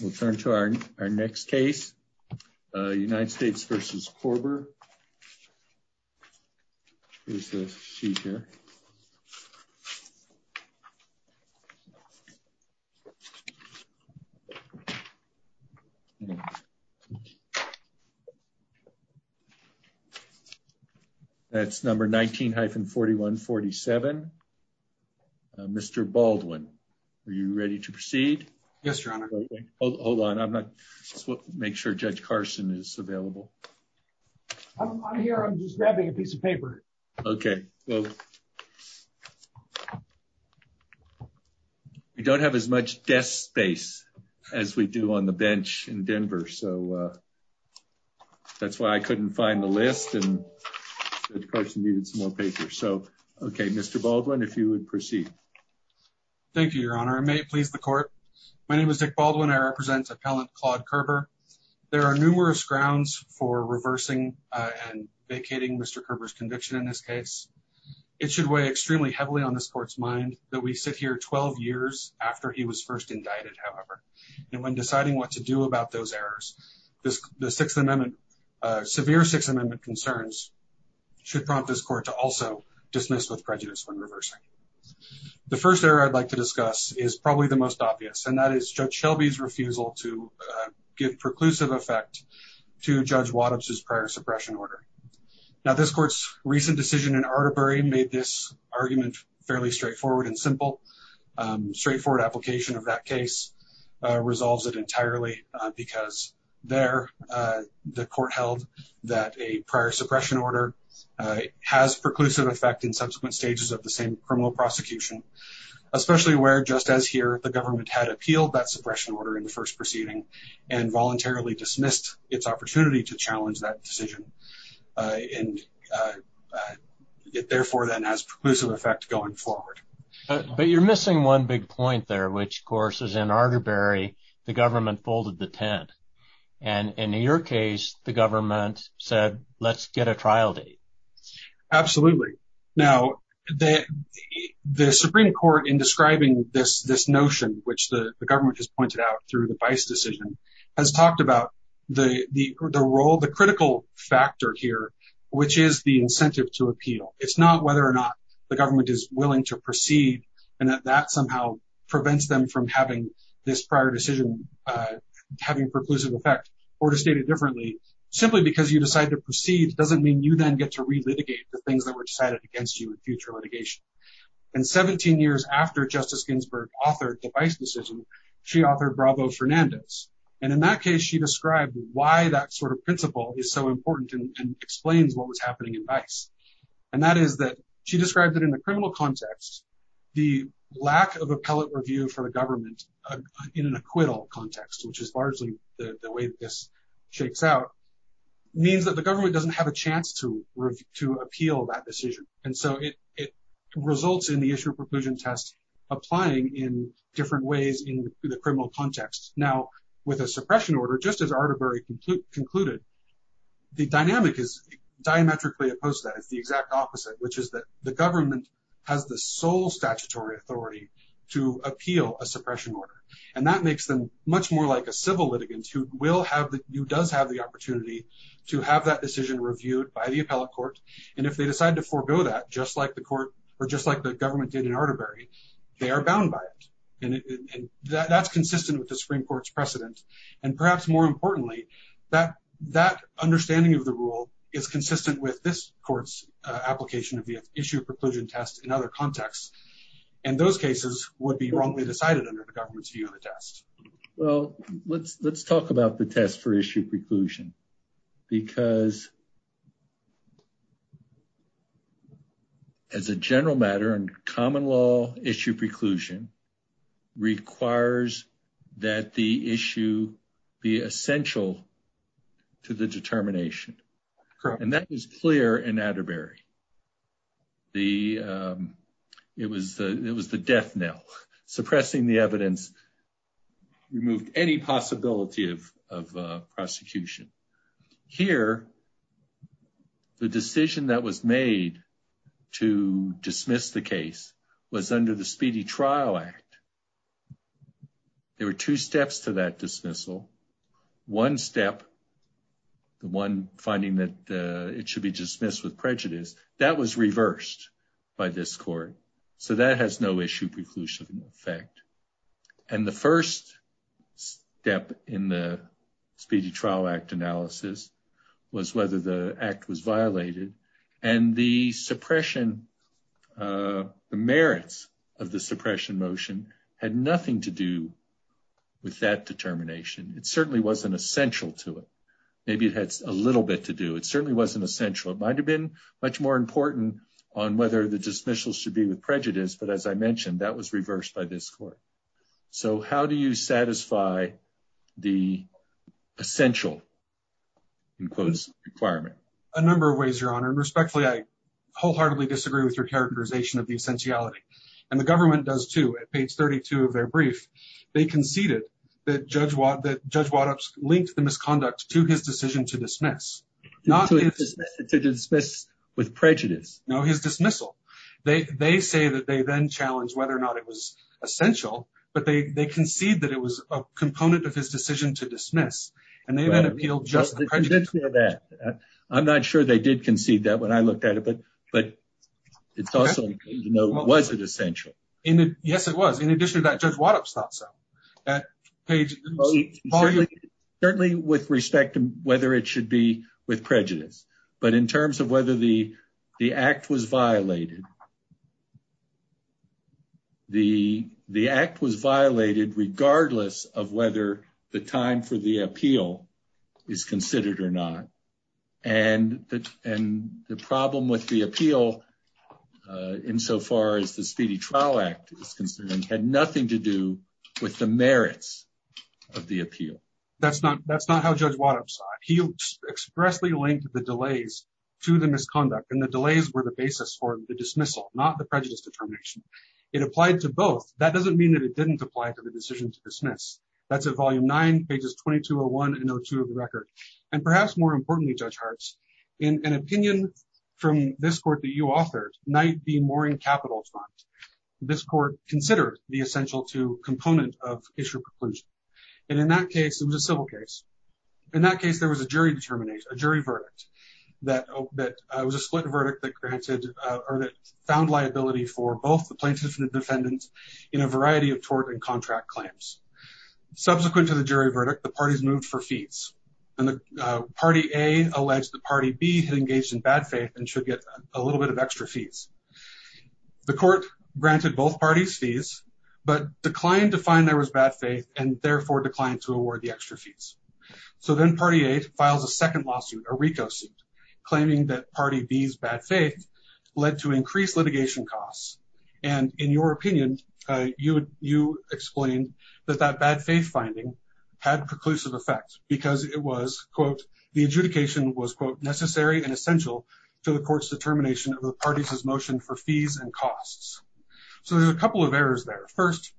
We'll turn to our next case, United States v. Koerber. Here's the sheet here. That's number 19-4147. Mr. Baldwin, are you ready to proceed? Yes, Your Honor. Hold on, I'm not... make sure Judge Carson is available. I'm here, I'm just grabbing a piece of paper. Okay. We don't have as much desk space as we do on the bench in Denver, so that's why I couldn't find the list and Judge Carson needed some more paper. So, okay, Mr. Baldwin, if you would proceed. Thank you, Your Honor. I may please the court. My name is Dick Baldwin. I represent Appellant Claude Koerber. There are numerous grounds for reversing and vacating Mr. Koerber's conviction in this case. It should weigh extremely heavily on this court's mind that we sit here 12 years after he was first indicted, however. And when deciding what to do about those errors, the Sixth Amendment, severe Sixth Amendment concerns should prompt this court to also dismiss with prejudice when reversing. The first error I'd like to discuss is probably the most obvious, and that is Judge Shelby's refusal to give preclusive effect to Judge Waddup's prior suppression order. Now, this court's recent decision in Arterbury made this argument fairly straightforward and simple. Straightforward application of that case resolves it entirely because there, the court held that a prior suppression order has preclusive effect in subsequent stages of the same criminal prosecution, especially where, just as here, the government had appealed that suppression order in the first proceeding and voluntarily dismissed its opportunity to challenge that decision, and it therefore then has preclusive effect going forward. But you're missing one big point there, which, of course, is in Arterbury, the government folded the tent. And in your case, the government said, let's get a trial date. Absolutely. Now, the Supreme Court, in describing this notion, which the government has pointed out through the Bice decision, has talked about the role, the critical factor here, which is the incentive to appeal. It's not whether or not the government is willing to proceed and that that somehow prevents them from having this prior decision having preclusive effect. Simply because you decide to proceed doesn't mean you then get to relitigate the things that were decided against you in future litigation. And 17 years after Justice Ginsburg authored the Bice decision, she authored Bravo-Fernandez. And in that case, she described why that sort of principle is so important and explains what was happening in Bice. And that is that she described that in the criminal context, the lack of appellate review for the government in an acquittal context, which is largely the way this shakes out, means that the government doesn't have a chance to appeal that decision. And so it results in the issue of preclusion test applying in different ways in the criminal context. Now, with a suppression order, just as Arterbury concluded, the dynamic is diametrically opposed to that. It's the exact opposite, which is that the government has the sole statutory authority to appeal a suppression order. And that makes them much more like a civil litigant who does have the opportunity to have that decision reviewed by the appellate court. And if they decide to forego that, just like the government did in Arterbury, they are bound by it. And that's consistent with the Supreme Court's precedent. And perhaps more importantly, that understanding of the rule is consistent with this court's application of the issue of preclusion test in other contexts. And those cases would be wrongly decided under the government's view of the test. Well, let's talk about the test for issue preclusion, because as a general matter and common law, issue preclusion requires that the issue be essential to the determination. And that was clear in Arterbury. It was the death knell. Suppressing the evidence removed any possibility of prosecution. Here, the decision that was made to dismiss the case was under the Speedy Trial Act. There were two steps to that dismissal. One step, the one finding that it should be dismissed with prejudice, that was reversed by this court. So that has no issue preclusion effect. And the first step in the Speedy Trial Act analysis was whether the act was violated. And the merits of the suppression motion had nothing to do with that determination. It certainly wasn't essential to it. Maybe it had a little bit to do. It certainly wasn't essential. It might have been much more important on whether the dismissal should be with prejudice. But as I mentioned, that was reversed by this court. So how do you satisfy the essential, in quotes, requirement? A number of ways, Your Honor. And respectfully, I wholeheartedly disagree with your characterization of the essentiality. And the government does, too. At page 32 of their brief, they conceded that Judge Waddup linked the misconduct to his decision to dismiss. To dismiss with prejudice. No, his dismissal. They say that they then challenged whether or not it was essential. I'm not sure they did concede that when I looked at it. But it's also important to know, was it essential? Yes, it was. In addition to that, Judge Waddup thought so. Certainly with respect to whether it should be with prejudice. But in terms of whether the act was violated, the act was violated regardless of whether the time for the appeal is considered or not. And the problem with the appeal, insofar as the Speedy Trial Act is concerned, had nothing to do with the merits of the appeal. That's not how Judge Waddup saw it. He expressly linked the delays to the misconduct. And the delays were the basis for the dismissal, not the prejudice determination. It applied to both. That doesn't mean that it didn't apply to the decision to dismiss. That's at Volume 9, pages 2201 and 2202 of the record. And perhaps more importantly, Judge Hartz, an opinion from this court that you authored might be more in capital front. This court considered the essential to component of issue preclusion. And in that case, it was a civil case. In that case, there was a jury verdict that was a split verdict that found liability for both the plaintiffs and the defendants in a variety of tort and contract claims. Subsequent to the jury verdict, the parties moved for fees. And Party A alleged that Party B had engaged in bad faith and should get a little bit of extra fees. The court granted both parties fees but declined to find there was bad faith and therefore declined to award the extra fees. So then Party A files a second lawsuit, a RICO suit, claiming that Party B's bad faith led to increased litigation costs. And in your opinion, you explained that that bad faith finding had preclusive effect because it was, quote, the adjudication was, quote, necessary and essential to the court's determination of the parties' motion for fees and costs. So there's a couple of errors there. First,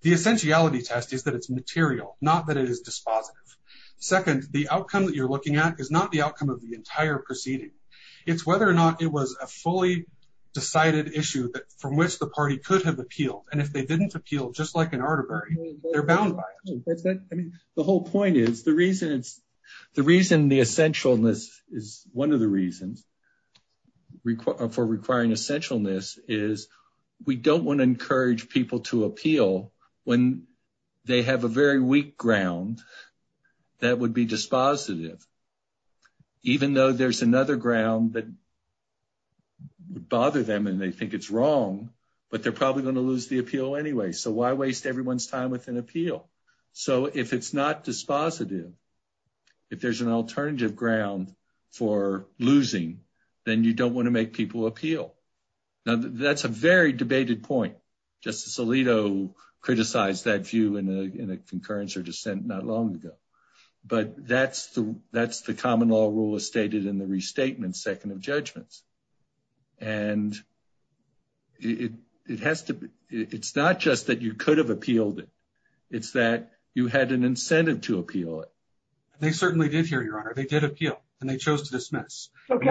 the essentiality test is that it's material, not that it is dispositive. Second, the outcome that you're looking at is not the outcome of the entire proceeding. It's whether or not it was a fully decided issue from which the party could have appealed. And if they didn't appeal, just like in Arterbury, they're bound by it. The whole point is the reason the essentialness is one of the reasons for requiring essentialness is we don't want to encourage people to appeal when they have a very weak ground that would be dispositive. Even though there's another ground that would bother them and they think it's wrong, but they're probably going to lose the appeal anyway. So why waste everyone's time with an appeal? So if it's not dispositive, if there's an alternative ground for losing, then you don't want to make people appeal. Now, that's a very debated point. Justice Alito criticized that view in a concurrence or dissent not long ago. But that's the common law rule as stated in the restatement second of judgments. And it has to be it's not just that you could have appealed it. It's that you had an incentive to appeal it. They certainly did hear your honor. They did appeal and they chose to dismiss. Let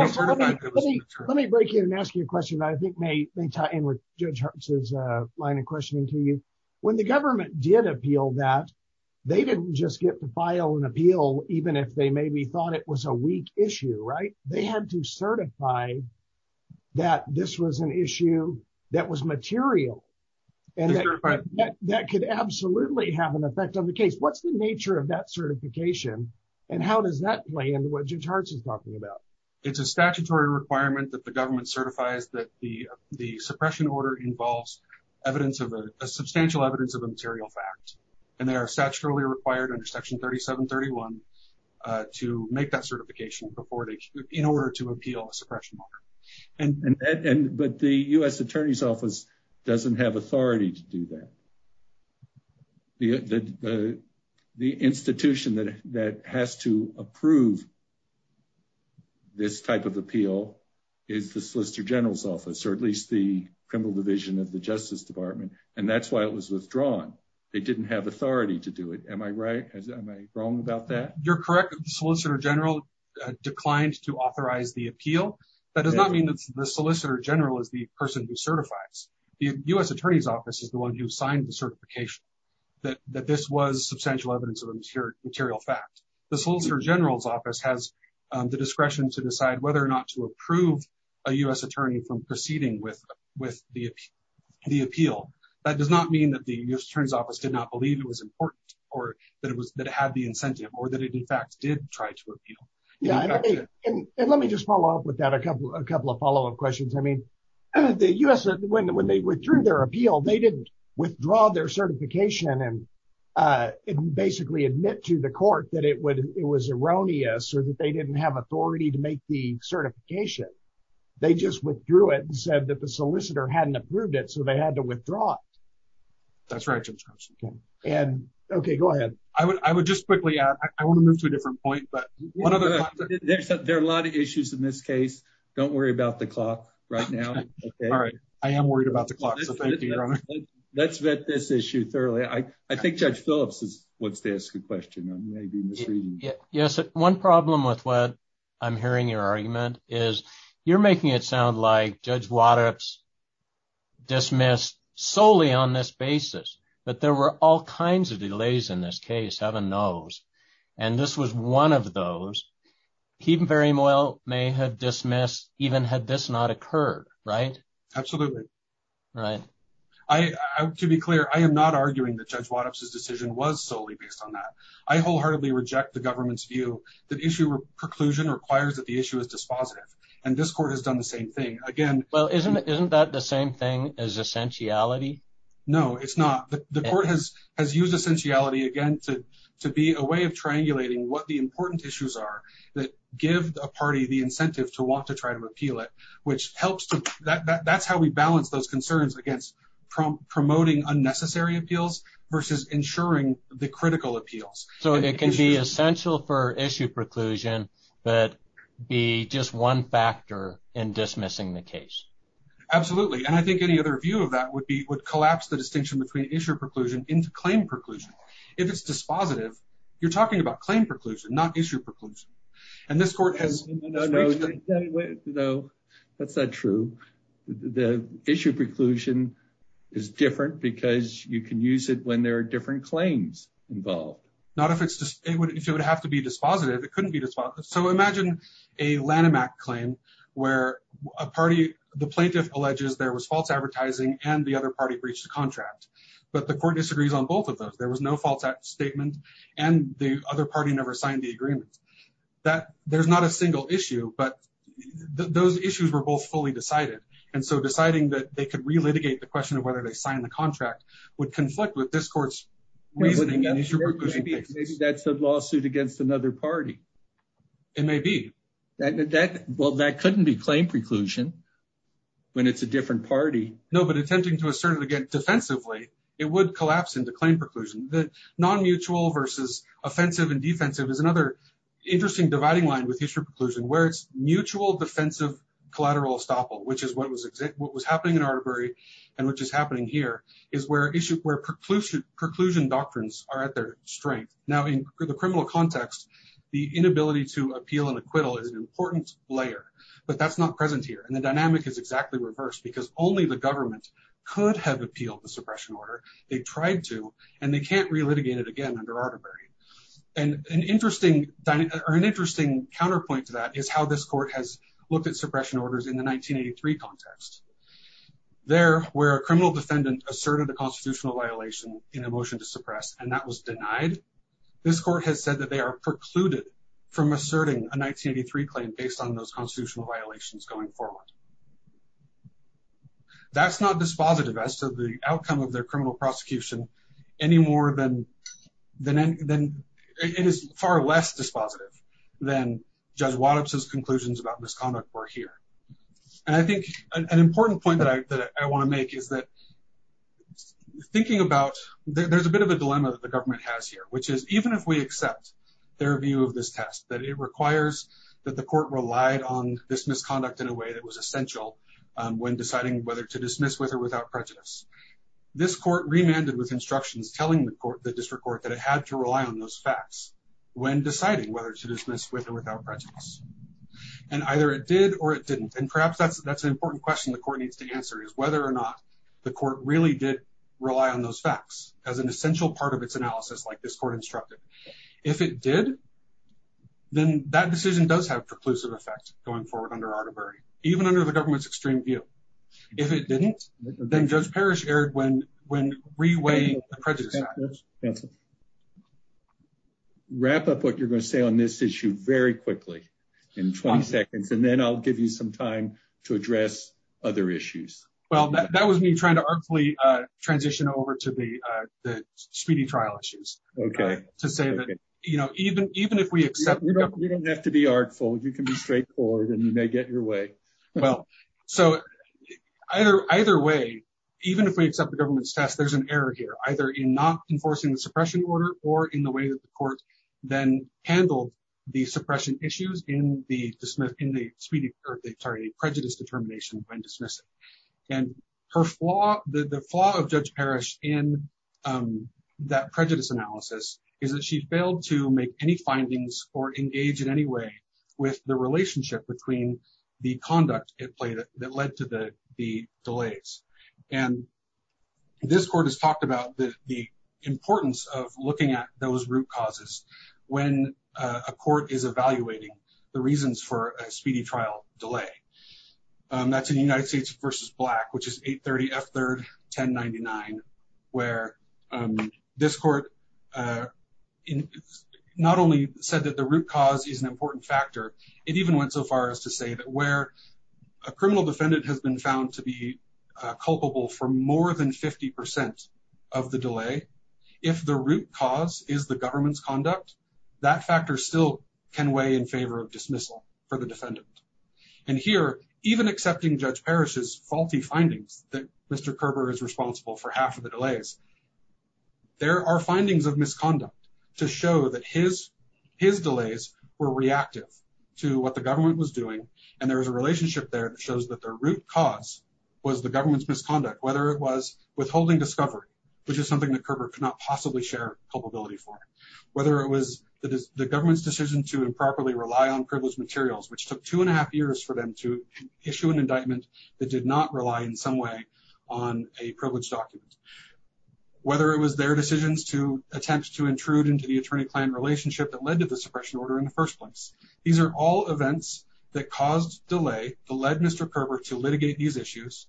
me break in and ask you a question. I think may tie in with Judge Hart's line of questioning to you. When the government did appeal that, they didn't just get to file an appeal even if they maybe thought it was a weak issue. Right. They had to certify that this was an issue that was material and that could absolutely have an effect on the case. What's the nature of that certification and how does that play into what Judge Hart is talking about? It's a statutory requirement that the government certifies that the suppression order involves evidence of a substantial evidence of a material fact. And there are statutorily required under Section 3731 to make that certification in order to appeal a suppression order. And but the U.S. Attorney's Office doesn't have authority to do that. The institution that that has to approve. This type of appeal is the Solicitor General's office or at least the criminal division of the Justice Department. And that's why it was withdrawn. They didn't have authority to do it. Am I right? Am I wrong about that? You're correct. Solicitor General declined to authorize the appeal. That does not mean that the Solicitor General is the person who certifies. The U.S. Attorney's Office is the one who signed the certification that this was substantial evidence of a material fact. The Solicitor General's office has the discretion to decide whether or not to approve a U.S. attorney from proceeding with the appeal. That does not mean that the U.S. Attorney's Office did not believe it was important or that it was that it had the incentive or that it, in fact, did try to appeal. And let me just follow up with that a couple of a couple of follow up questions. I mean, the U.S. when they withdrew their appeal, they didn't withdraw their certification and basically admit to the court that it was erroneous or that they didn't have authority to make the certification. They just withdrew it and said that the solicitor hadn't approved it, so they had to withdraw it. That's right. And OK, go ahead. I would I would just quickly I want to move to a different point, but there are a lot of issues in this case. Don't worry about the clock right now. All right. I am worried about the clock. Let's vet this issue thoroughly. I think Judge Phillips wants to ask a question. Yes. One problem with what I'm hearing your argument is you're making it sound like Judge Wattups dismissed solely on this basis. But there were all kinds of delays in this case. Heaven knows. And this was one of those he very well may have dismissed even had this not occurred. Right. Absolutely. Right. To be clear, I am not arguing that Judge Wattups decision was solely based on that. I wholeheartedly reject the government's view that issue preclusion requires that the issue is dispositive. And this court has done the same thing again. Well, isn't isn't that the same thing as essentiality? No, it's not. The court has has used essentiality again to to be a way of triangulating what the important issues are that give a party the incentive to want to try to repeal it. That's how we balance those concerns against promoting unnecessary appeals versus ensuring the critical appeals. So it can be essential for issue preclusion, but be just one factor in dismissing the case. Absolutely. And I think any other view of that would be would collapse the distinction between issue preclusion into claim preclusion. If it's dispositive, you're talking about claim preclusion, not issue preclusion. And this court has no, no, no. That's not true. The issue preclusion is different because you can use it when there are different claims involved. Not if it's just if it would have to be dispositive, it couldn't be. So imagine a Lanham claim where a party, the plaintiff alleges there was false advertising and the other party breached the contract. But the court disagrees on both of those. There was no false statement. And the other party never signed the agreement that there's not a single issue, but those issues were both fully decided. And so deciding that they could relitigate the question of whether they signed the contract would conflict with this court's reasoning. Maybe that's a lawsuit against another party. It may be that. Well, that couldn't be claim preclusion when it's a different party. No, but attempting to assert it again defensively, it would collapse into claim preclusion. The non-mutual versus offensive and defensive is another interesting dividing line with issue preclusion where it's mutual defensive collateral estoppel, which is what was what was happening in Arterbury and which is happening here, is where issue where preclusion doctrines are at their strength. Now, in the criminal context, the inability to appeal and acquittal is an important layer, but that's not present here. And the dynamic is exactly reversed because only the government could have appealed the suppression order. They tried to and they can't relitigate it again under Arterbury. And an interesting or an interesting counterpoint to that is how this court has looked at suppression orders in the 1983 context. There were a criminal defendant asserted a constitutional violation in a motion to suppress, and that was denied. This court has said that they are precluded from asserting a 1983 claim based on those constitutional violations going forward. That's not dispositive as to the outcome of their criminal prosecution any more than than then. It is far less dispositive than Judge Wattup's conclusions about misconduct were here. And I think an important point that I want to make is that thinking about there's a bit of a dilemma that the government has here, which is even if we accept their view of this test, that it requires that the court relied on this misconduct in a way that was essential when deciding whether to dismiss with or without prejudice. This court remanded with instructions telling the court, the district court, that it had to rely on those facts when deciding whether to dismiss with or without prejudice. And either it did or it didn't. And perhaps that's an important question the court needs to answer is whether or not the court really did rely on those facts as an essential part of its analysis like this court instructed. If it did, then that decision does have preclusive effect going forward under Arduberry, even under the government's extreme view. If it didn't, then Judge Parrish erred when re-weighing the prejudice. Wrap up what you're going to say on this issue very quickly in 20 seconds, and then I'll give you some time to address other issues. Well, that was me trying to artfully transition over to the speedy trial issues. Okay. To say that, you know, even if we accept... You don't have to be artful, you can be straightforward and you may get your way. Well, so either way, even if we accept the government's test, there's an error here, either in not enforcing the suppression order or in the way that the court then handled the suppression issues in the prejudice determination when dismissing. And the flaw of Judge Parrish in that prejudice analysis is that she failed to make any findings or engage in any way with the relationship between the conduct that led to the delays. And this court has talked about the importance of looking at those root causes when a court is evaluating the reasons for a speedy trial delay. That's in United States v. Black, which is 830 F3rd 1099, where this court not only said that the root cause is an important factor, it even went so far as to say that where a criminal defendant has been found to be culpable for more than 50% of the delay, if the root cause is the government's conduct, that factor still can weigh in favor of dismissal for the defendant. And here, even accepting Judge Parrish's faulty findings that Mr. Kerber is responsible for half of the delays, there are findings of misconduct to show that his delays were reactive to what the government was doing, and there was a relationship there that shows that their root cause was the government's misconduct, whether it was withholding discovery, which is something that Kerber could not possibly share culpability for, whether it was the government's decision to improperly rely on privileged materials, which took two and a half years for them to issue an indictment that did not rely in some way on a privileged document, whether it was their decisions to attempt to intrude into the attorney-client relationship that led to the suppression order in the first place. These are all events that caused delay that led Mr. Kerber to litigate these issues,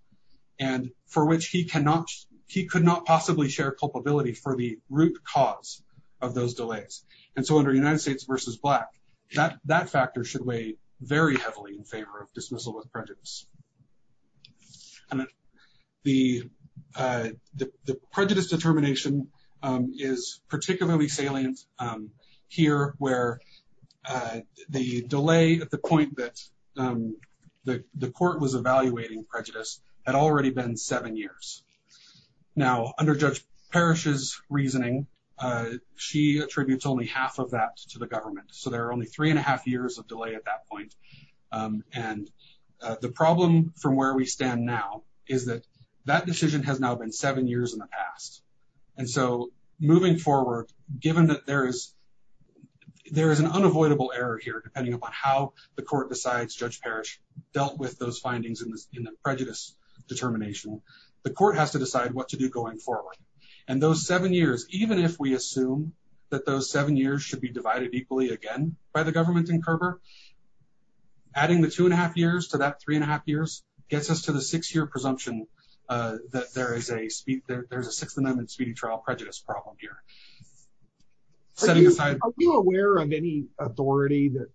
and for which he could not possibly share culpability for the root cause of those delays. And so under United States v. Black, that factor should weigh very heavily in favor of dismissal with prejudice. The prejudice determination is particularly salient here, where the delay at the point that the court was evaluating prejudice had already been seven years. Now, under Judge Parrish's reasoning, she attributes only half of that to the government. So there are only three and a half years of delay at that point. And the problem from where we stand now is that that decision has now been seven years in the past. And so moving forward, given that there is an unavoidable error here, depending upon how the court decides, Judge Parrish dealt with those findings in the prejudice determination, the court has to decide what to do going forward. And those seven years, even if we assume that those seven years should be divided equally again by the government and Kerber, adding the two and a half years to that three and a half years gets us to the six-year presumption that there is a Sixth Amendment speedy trial prejudice problem here. Are you aware of any authority that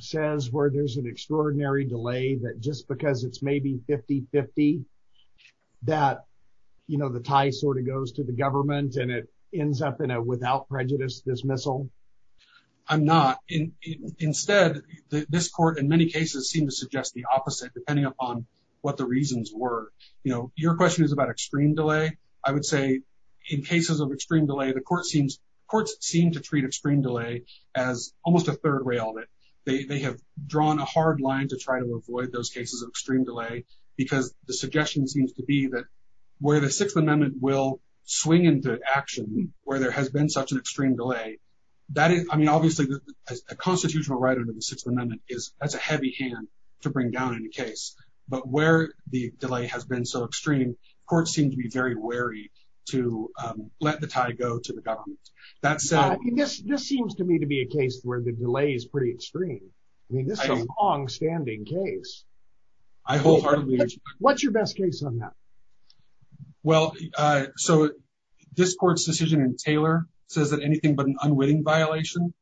says where there's an extraordinary delay that just because it's maybe 50-50 that, you know, the tie sort of goes to the government and it ends up in a without prejudice dismissal? I'm not. Instead, this court in many cases seem to suggest the opposite, depending upon what the reasons were. You know, your question is about extreme delay. I would say in cases of extreme delay, the court seems courts seem to treat extreme delay as almost a third way of it. They have drawn a hard line to try to avoid those cases of extreme delay because the suggestion seems to be that where the Sixth Amendment will swing into action, where there has been such an extreme delay. I mean, obviously, a constitutional right under the Sixth Amendment is that's a heavy hand to bring down in a case. But where the delay has been so extreme, courts seem to be very wary to let the tie go to the government. This seems to me to be a case where the delay is pretty extreme. I mean, this is a longstanding case. I wholeheartedly agree. What's your best case on that? Well, so this court's decision in Taylor says that anything but an unwitting violation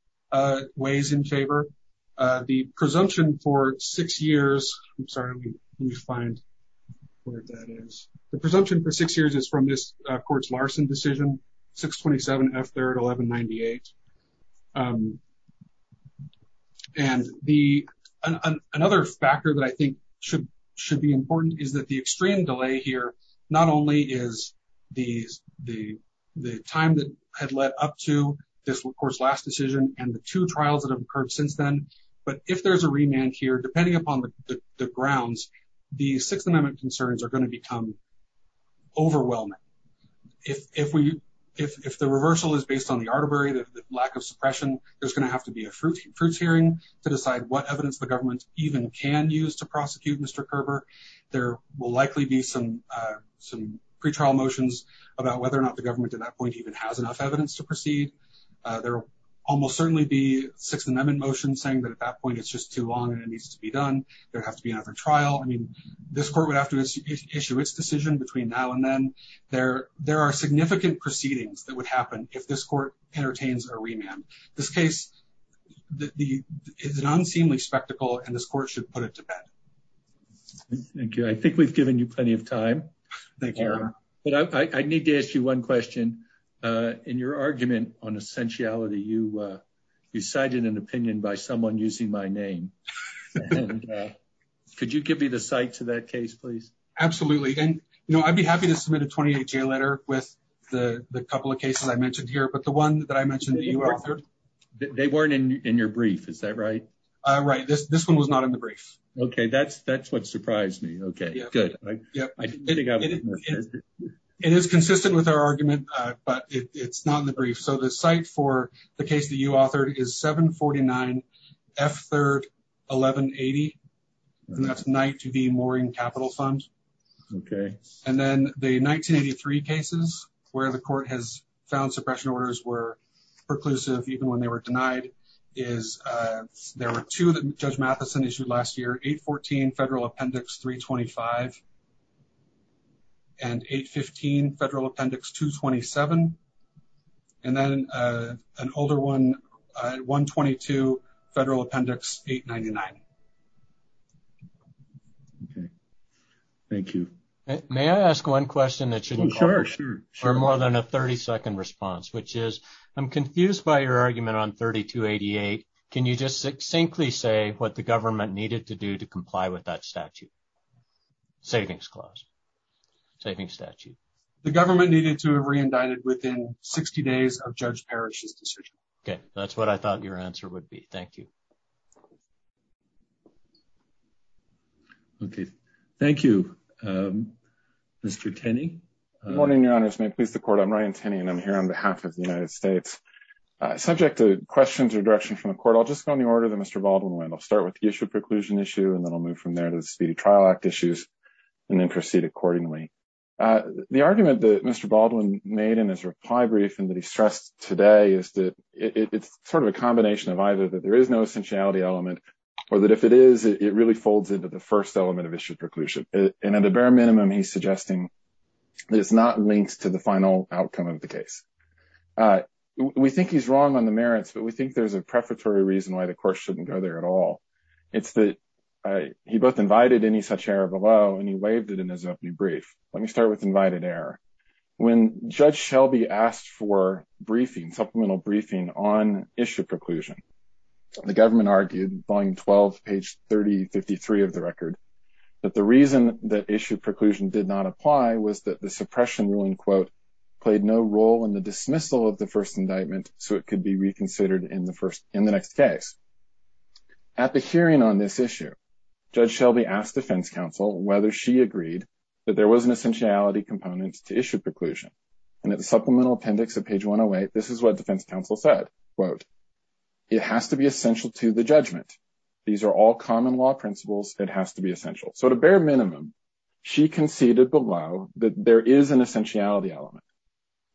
weighs in favor. The presumption for six years. I'm sorry, let me find where that is. The presumption for six years is from this court's Larson decision, 627 F3rd 1198. And another factor that I think should be important is that the extreme delay here, not only is the time that had led up to this court's last decision and the two trials that have occurred since then, but if there's a remand here, depending upon the grounds, the Sixth Amendment concerns are going to become overwhelming. If the reversal is based on the arbitrary, the lack of suppression, there's going to have to be a fruits hearing to decide what evidence the government even can use to prosecute Mr. Kerber. There will likely be some pretrial motions about whether or not the government at that point even has enough evidence to proceed. There will almost certainly be Sixth Amendment motions saying that at that point it's just too long and it needs to be done. There have to be another trial. I mean, this court would have to issue its decision between now and then. There are significant proceedings that would happen if this court entertains a remand. This case is an unseemly spectacle and this court should put it to bed. Thank you. I think we've given you plenty of time. Thank you. But I need to ask you one question. In your argument on essentiality, you cited an opinion by someone using my name. Could you give me the site to that case, please? Absolutely. And, you know, I'd be happy to submit a 28-J letter with the couple of cases I mentioned here, but the one that I mentioned that you authored. They weren't in your brief, is that right? Right. This one was not in the brief. Okay, that's what surprised me. Okay, good. It is consistent with our argument, but it's not in the brief. So the site for the case that you authored is 749 F. 3rd, 1180. That's Knight v. Mooring Capital Fund. And then the 1983 cases where the court has found suppression orders were perclusive, even when they were denied, is there were two that Judge Mathison issued last year, 814 Federal Appendix 325 and 815 Federal Appendix 227 and then an older one, 122 Federal Appendix 899. Okay, thank you. May I ask one question that should be covered? Sure, sure. For more than a 30-second response, which is I'm confused by your argument on 3288. Can you just succinctly say what the government needed to do to comply with that statute, savings clause, savings statute? The government needed to have re-indicted within 60 days of Judge Parrish's decision. Okay, that's what I thought your answer would be. Thank you. Okay, thank you, Mr. Tenney. Good morning, Your Honors. May it please the Court, I'm Ryan Tenney, and I'm here on behalf of the United States. Subject to questions or direction from the Court, I'll just go in the order that Mr. Baldwin went. I'll start with the issue of preclusion issue, and then I'll move from there to the Speedy Trial Act issues, and then proceed accordingly. The argument that Mr. Baldwin made in his reply brief and that he stressed today is that it's sort of a combination of either that there is no essentiality element, or that if it is, it really folds into the first element of issue preclusion. And at a bare minimum, he's suggesting that it's not linked to the final outcome of the case. We think he's wrong on the merits, but we think there's a prefatory reason why the Court shouldn't go there at all. It's that he both invited any such error below, and he waived it in his opening brief. Let me start with invited error. When Judge Shelby asked for briefing, supplemental briefing, on issue preclusion, the government argued, volume 12, page 3053 of the record, that the reason that issue preclusion did not apply was that the suppression ruling, quote, played no role in the dismissal of the first indictment, so it could be reconsidered in the next case. At the hearing on this issue, Judge Shelby asked defense counsel whether she agreed that there was an essentiality component to issue preclusion. And at the supplemental appendix of page 108, this is what defense counsel said, quote, It has to be essential to the judgment. These are all common law principles. It has to be essential. So at a bare minimum, she conceded below that there is an essentiality element.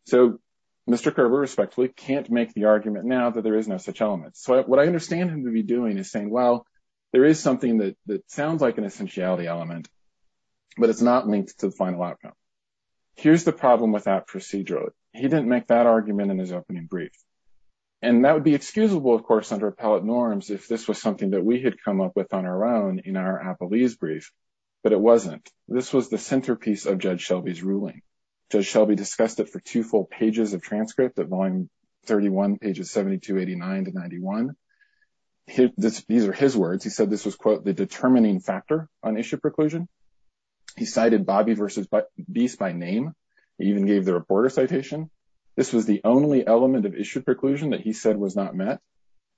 So Mr. Kerber, respectively, can't make the argument now that there is no such element. So what I understand him to be doing is saying, well, there is something that sounds like an essentiality element, but it's not linked to the final outcome. Here's the problem with that procedural. He didn't make that argument in his opening brief. And that would be excusable, of course, under appellate norms if this was something that we had come up with on our own in our appellee's brief. But it wasn't. This was the centerpiece of Judge Shelby's ruling. Judge Shelby discussed it for two full pages of transcript at volume 31, pages 72, 89 to 91. These are his words. He said this was, quote, the determining factor on issue preclusion. He cited Bobby versus Beast by name. He even gave the reporter citation. This was the only element of issue preclusion that he said was not met.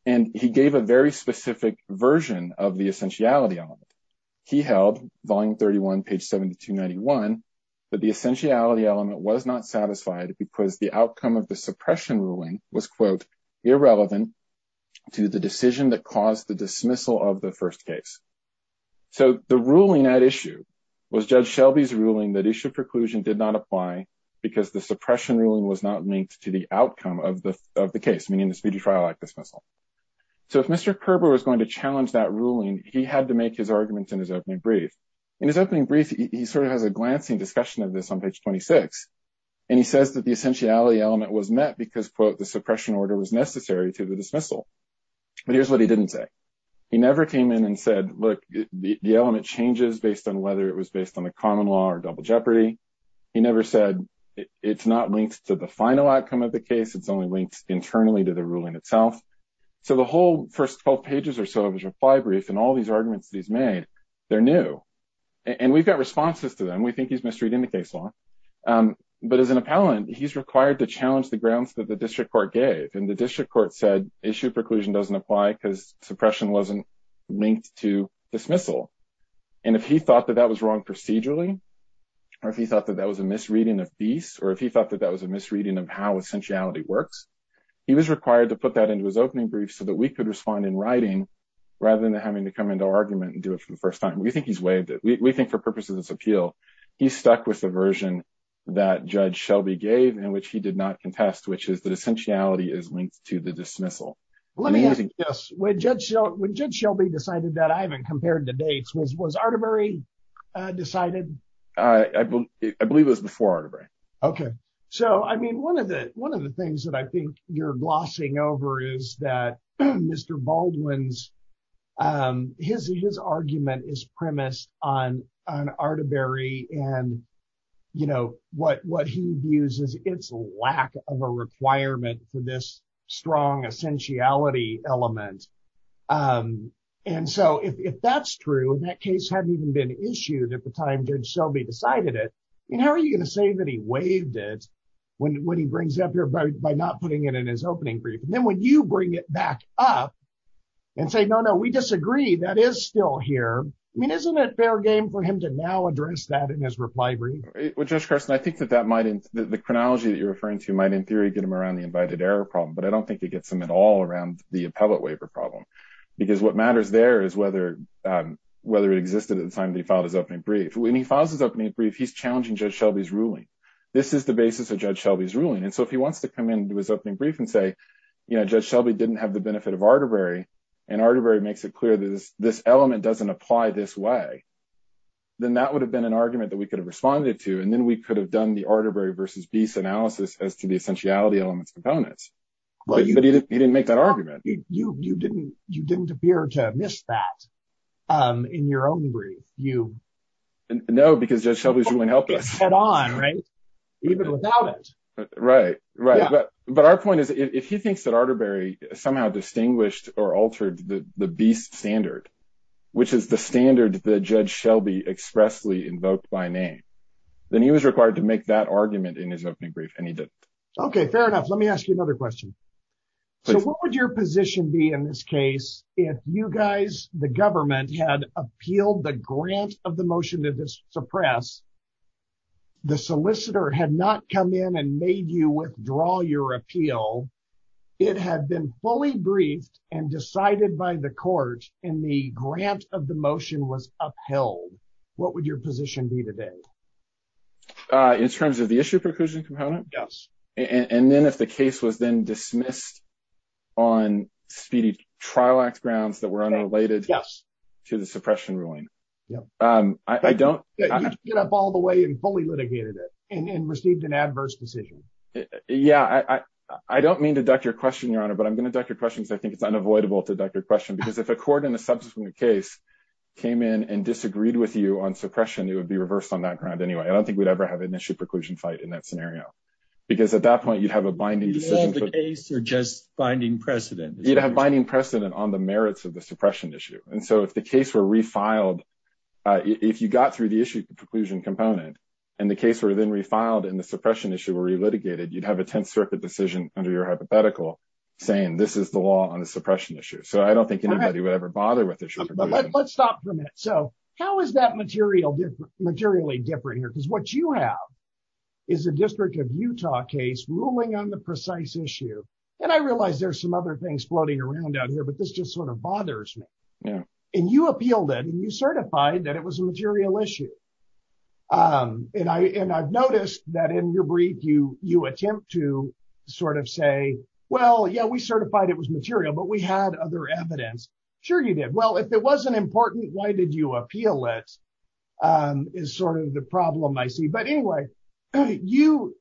And he gave a very specific version of the essentiality. He held volume 31, page 72, 91. But the essentiality element was not satisfied because the outcome of the suppression ruling was, quote, irrelevant to the decision that caused the dismissal of the first case. So the ruling at issue was Judge Shelby's ruling that issue preclusion did not apply because the suppression ruling was not linked to the outcome of the case, meaning the speedy trial act dismissal. So if Mr. Kerber was going to challenge that ruling, he had to make his argument in his opening brief. In his opening brief, he sort of has a glancing discussion of this on page 26. And he says that the essentiality element was met because, quote, the suppression order was necessary to the dismissal. But here's what he didn't say. He never came in and said, look, the element changes based on whether it was based on the common law or double jeopardy. He never said it's not linked to the final outcome of the case. It's only linked internally to the ruling itself. So the whole first 12 pages or so of his reply brief and all these arguments that he's made, they're new. And we've got responses to them. We think he's misreading the case law. But as an appellant, he's required to challenge the grounds that the district court gave. And the district court said issue preclusion doesn't apply because suppression wasn't linked to dismissal. And if he thought that that was wrong procedurally, or if he thought that that was a misreading of beast, or if he thought that that was a misreading of how essentiality works, he was required to put that into his opening brief so that we could respond in writing rather than having to come into argument and do it for the first time. We think he's waived it. We think for purposes of this appeal, he's stuck with the version that Judge Shelby gave in which he did not contest, which is that essentiality is linked to the dismissal. Let me ask you this. When Judge Shelby decided that, I haven't compared the dates. Was Artivari decided? I believe it was before Artivari. Okay. So, I mean, one of the things that I think you're glossing over is that Mr. Baldwin's, his argument is premised on Artivari and, you know, what he views as its lack of a requirement for this strong essentiality element. And so if that's true, and that case hadn't even been issued at the time Judge Shelby decided it, I mean, how are you going to say that he waived it when he brings it up here by not putting it in his opening brief? And then when you bring it back up and say, no, no, we disagree, that is still here. I mean, isn't it fair game for him to now address that in his reply brief? Well, Judge Carson, I think that the chronology that you're referring to might in theory get him around the invited error problem, but I don't think it gets him at all around the appellate waiver problem. Because what matters there is whether it existed at the time that he filed his opening brief. When he files his opening brief, he's challenging Judge Shelby's ruling. This is the basis of Judge Shelby's ruling. And so if he wants to come into his opening brief and say, you know, Judge Shelby didn't have the benefit of Artivari, and Artivari makes it clear that this element doesn't apply this way, then that would have been an argument that we could have responded to. And then we could have done the Artivari versus Biese analysis as to the essentiality elements components. But he didn't make that argument. You didn't appear to have missed that in your own brief. No, because Judge Shelby's ruling helped us. Right, right. But our point is, if he thinks that Artivari somehow distinguished or altered the Biese standard, which is the standard that Judge Shelby expressly invoked by name, then he was required to make that argument in his opening brief. And he did. Okay, fair enough. Let me ask you another question. So what would your position be in this case if you guys, the government, had appealed the grant of the motion to suppress, the solicitor had not come in and made you withdraw your appeal, it had been fully briefed and decided by the court, and the grant of the motion was upheld. What would your position be today? In terms of the issue preclusion component? Yes. And then if the case was then dismissed on speedy trial act grounds that were unrelated to the suppression ruling. I don't get up all the way and fully litigated it and received an adverse decision. Yeah, I don't mean to duck your question, Your Honor, but I'm going to duck your questions. I think it's unavoidable to duck your question because if a court in a subsequent case came in and disagreed with you on suppression, it would be reversed on that ground anyway. I don't think we'd ever have an issue preclusion fight in that scenario. Because at that point, you'd have a binding decision. You'd have the case or just binding precedent? You'd have binding precedent on the merits of the suppression issue. And so if the case were refiled, if you got through the issue preclusion component and the case were then refiled and the suppression issue were re-litigated, you'd have a 10th Circuit decision under your hypothetical saying this is the law on the suppression issue. So I don't think anybody would ever bother with the issue preclusion. Let's stop for a minute. So how is that materially different here? Because what you have is a District of Utah case ruling on the precise issue. And I realize there's some other things floating around out here, but this just sort of bothers me. And you appealed it and you certified that it was a material issue. And I've noticed that in your brief, you attempt to sort of say, well, yeah, we certified it was material, but we had other evidence. Sure you did. Well, if it wasn't important, why did you appeal it is sort of the problem I see. But anyway, you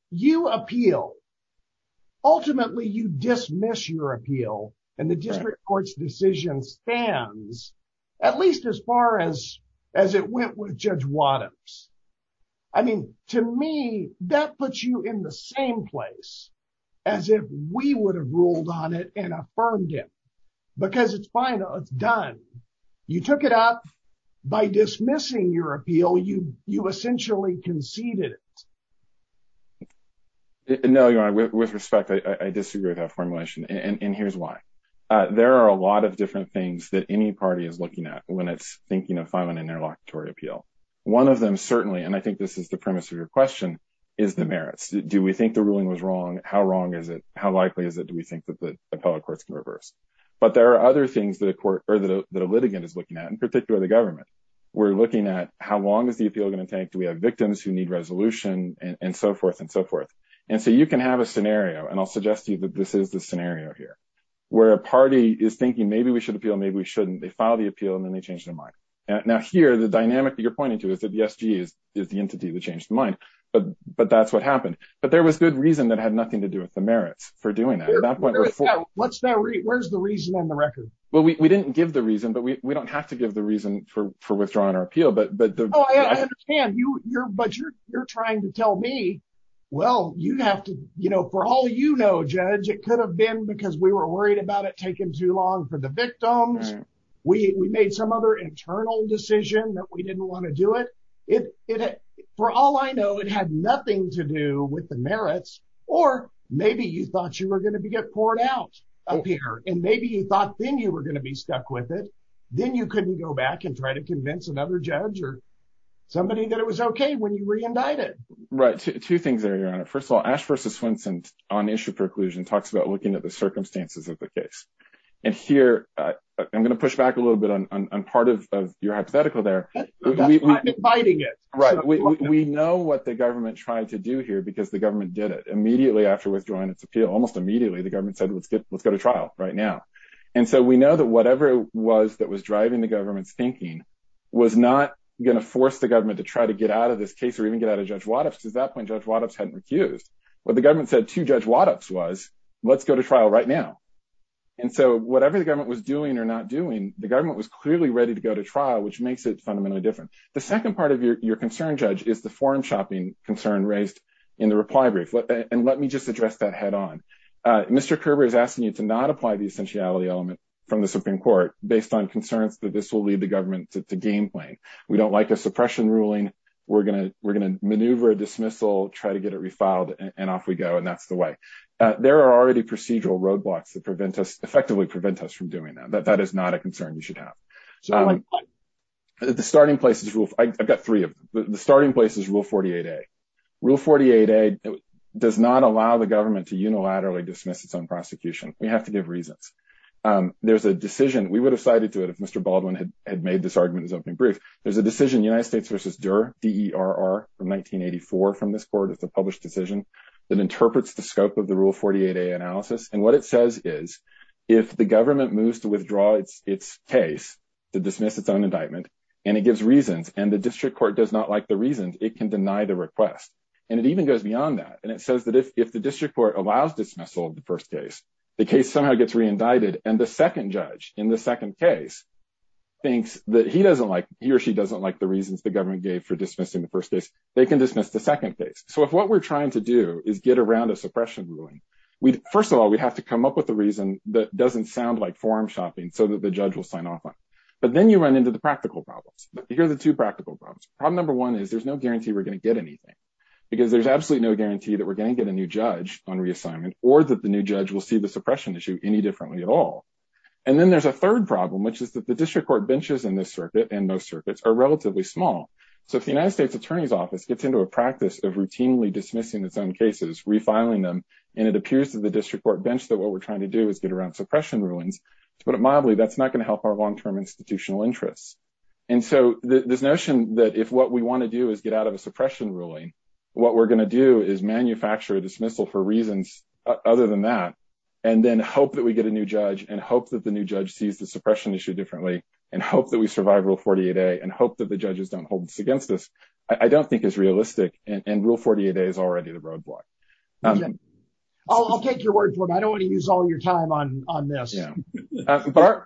appeal. Ultimately, you dismiss your appeal. And the District Court's decision stands at least as far as it went with Judge Wadhams. I mean, to me, that puts you in the same place as if we would have ruled on it and affirmed it. Because it's fine. It's done. You took it up. By dismissing your appeal, you essentially conceded it. No, with respect, I disagree with that formulation. And here's why. There are a lot of different things that any party is looking at when it's thinking of filing an interlocutory appeal. One of them, certainly, and I think this is the premise of your question, is the merits. Do we think the ruling was wrong? How wrong is it? How likely is it? Do we think that the appellate courts can reverse? But there are other things that a litigant is looking at, in particular the government. We're looking at how long is the appeal going to take? Do we have victims who need resolution? And so forth and so forth. And so you can have a scenario, and I'll suggest to you that this is the scenario here, where a party is thinking maybe we should appeal, maybe we shouldn't. They file the appeal, and then they change their mind. Now, here, the dynamic that you're pointing to is that the SG is the entity that changed their mind. But that's what happened. But there was good reason that had nothing to do with the merits for doing that. Where's the reason on the record? Well, we didn't give the reason, but we don't have to give the reason for withdrawing our appeal. Oh, I understand. But you're trying to tell me, well, for all you know, Judge, it could have been because we were worried about it taking too long for the victims. We made some other internal decision that we didn't want to do it. For all I know, it had nothing to do with the merits, or maybe you thought you were going to get poured out up here, and maybe you thought then you were going to be stuck with it. Then you couldn't go back and try to convince another judge or somebody that it was okay when you were indicted. Right. Two things there, Your Honor. First of all, Ash v. Swenson on issue preclusion talks about looking at the circumstances of the case. And here, I'm going to push back a little bit on part of your hypothetical there. We know what the government tried to do here because the government did it. Immediately after withdrawing its appeal, almost immediately, the government said, let's go to trial right now. And so we know that whatever it was that was driving the government's thinking was not going to force the government to try to get out of this case or even get out of Judge Waddup's, because at that point, Judge Waddup's hadn't recused. What the government said to Judge Waddup's was, let's go to trial right now. And so whatever the government was doing or not doing, the government was clearly ready to go to trial, which makes it fundamentally different. The second part of your concern, Judge, is the forum shopping concern raised in the reply brief. And let me just address that head on. Mr. Kerber is asking you to not apply the essentiality element from the Supreme Court based on concerns that this will lead the government to game playing. We don't like a suppression ruling. We're going to maneuver a dismissal, try to get it refiled, and off we go. And that's the way. There are already procedural roadblocks that prevent us, effectively prevent us from doing that. That is not a concern you should have. The starting place is, I've got three of them. The starting place is Rule 48A. Rule 48A does not allow the government to unilaterally dismiss its own prosecution. We have to give reasons. There's a decision. We would have cited to it if Mr. Baldwin had made this argument as opening brief. There's a decision, United States versus DER, D-E-R-R, from 1984 from this court. It's a published decision that interprets the scope of the Rule 48A analysis. And what it says is if the government moves to withdraw its case to dismiss its own indictment and it gives reasons and the district court does not like the reasons, it can deny the request. And it even goes beyond that. And it says that if the district court allows dismissal of the first case, the case somehow gets reindicted and the second judge in the second case thinks that he doesn't like, he or she doesn't like the reasons the government gave for dismissing the first case. They can dismiss the second case. So if what we're trying to do is get around a suppression ruling, first of all, we have to come up with a reason that doesn't sound like forum shopping so that the judge will sign off on it. But then you run into the practical problems. Here are the two practical problems. Problem number one is there's no guarantee we're going to get anything because there's absolutely no guarantee that we're going to get a new judge on reassignment or that the new judge will see the suppression issue any differently at all. And then there's a third problem, which is that the district court benches in this circuit and most circuits are relatively small. So if the United States Attorney's Office gets into a practice of routinely dismissing its own cases, refiling them, and it appears to the district court bench that what we're trying to do is get around suppression rulings, to put it mildly, that's not going to help our long-term institutional interests. And so this notion that if what we want to do is get out of a suppression ruling, what we're going to do is manufacture a dismissal for reasons other than that, and then hope that we get a new judge and hope that the new judge sees the suppression issue differently and hope that we survive Rule 48A and hope that the judges don't hold this against us, I don't think is realistic, and Rule 48A is already the roadblock. I'll take your word for it. I don't want to use all your time on this. Yeah. But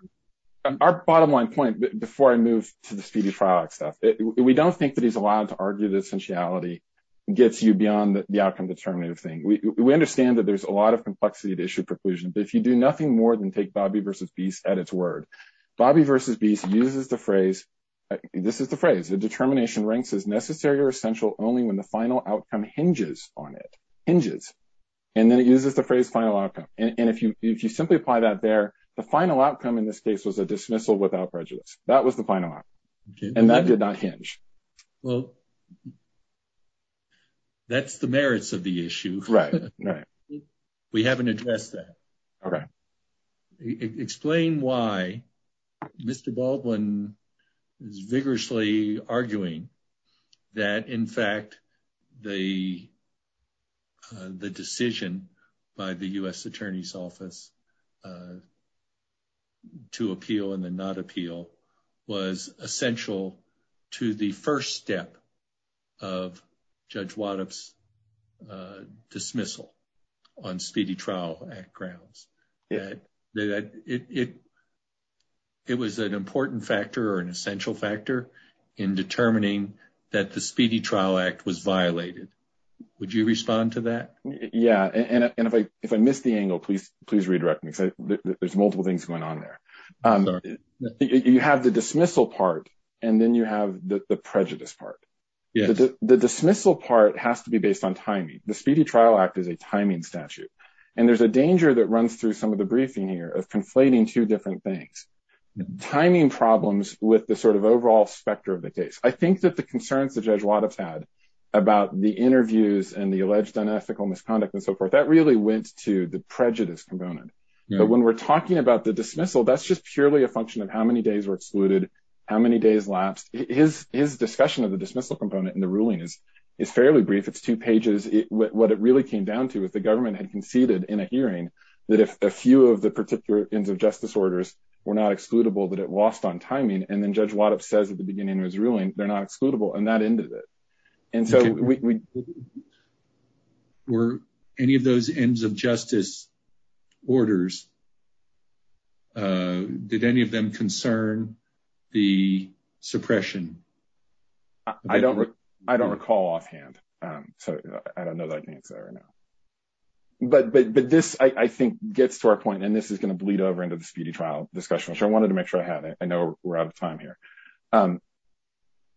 our bottom line point, before I move to the speedy trial stuff, we don't think that he's allowed to argue that essentiality gets you beyond the outcome determinative thing. We understand that there's a lot of complexity to issue preclusion, but if you do nothing more than take Bobby v. Beast at its word, Bobby v. Beast uses the phrase, this is the phrase, the determination ranks as necessary or essential only when the final outcome hinges on it. Hinges. And then it uses the phrase final outcome. And if you simply apply that there, the final outcome in this case was a dismissal without prejudice. That was the final outcome. And that did not hinge. Well, that's the merits of the issue. Right. We haven't addressed that. Okay. Explain why Mr. Baldwin is vigorously arguing that, in fact, the decision by the U.S. Attorney's Office to appeal and then not appeal was essential to the first step of Judge Waddup's dismissal on speedy trial grounds. Yeah. It was an important factor or an essential factor in determining that the Speedy Trial Act was violated. Would you respond to that? Yeah. And if I miss the angle, please redirect me because there's multiple things going on there. Sorry. You have the dismissal part, and then you have the prejudice part. Yes. The dismissal part has to be based on timing. The Speedy Trial Act is a timing statute. And there's a danger that runs through some of the briefing here of conflating two different things, timing problems with the sort of overall specter of the case. I think that the concerns that Judge Waddup's had about the interviews and the alleged unethical misconduct and so forth, that really went to the prejudice component. But when we're talking about the dismissal, that's just purely a function of how many days were excluded, how many days lapsed. His discussion of the dismissal component in the ruling is fairly brief. It's two pages. What it really came down to is the government had conceded in a hearing that if a few of the particular ends of justice orders were not excludable, that it lost on timing. And then Judge Waddup says at the beginning of his ruling, they're not excludable, and that ended it. And so we – Were any of those ends of justice orders, did any of them concern the suppression? I don't recall offhand, so I don't know that I can answer that right now. But this, I think, gets to our point, and this is going to bleed over into the speedy trial discussion, which I wanted to make sure I had. I know we're out of time here.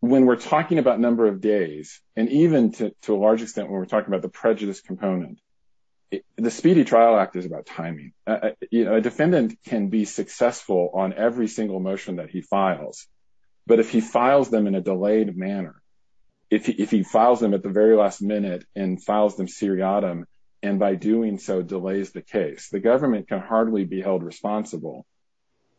When we're talking about number of days, and even to a large extent when we're talking about the prejudice component, the Speedy Trial Act is about timing. A defendant can be successful on every single motion that he files. But if he files them in a delayed manner, if he files them at the very last minute and files them seriatim, and by doing so delays the case, the government can hardly be held responsible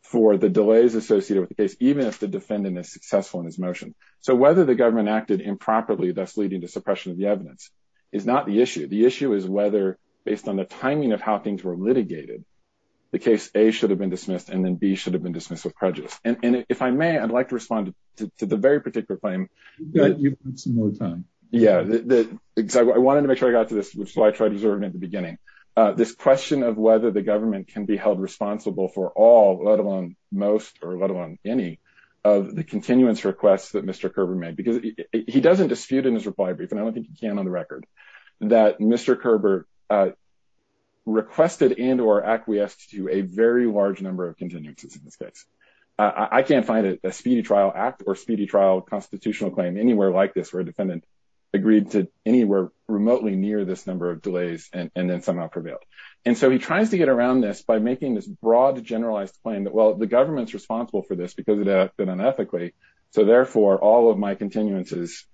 for the delays associated with the case, even if the defendant is successful in his motion. So whether the government acted improperly, thus leading to suppression of the evidence, is not the issue. The issue is whether, based on the timing of how things were litigated, the case A should have been dismissed and then B should have been dismissed with prejudice. And if I may, I'd like to respond to the very particular claim. You've got some more time. Yeah, I wanted to make sure I got to this, which is why I tried observing at the beginning. This question of whether the government can be held responsible for all, let alone most, or let alone any of the continuance requests that Mr. Kerber made, because he doesn't dispute in his reply brief, and I don't think he can on the record, that Mr. Kerber requested and or acquiesced to a very large number of continuances in this case. I can't find a speedy trial act or speedy trial constitutional claim anywhere like this, where a defendant agreed to anywhere remotely near this number of delays and then somehow prevailed. And so he tries to get around this by making this broad, generalized claim that, well, the government's responsible for this because it acted unethically. So therefore, all of my continuances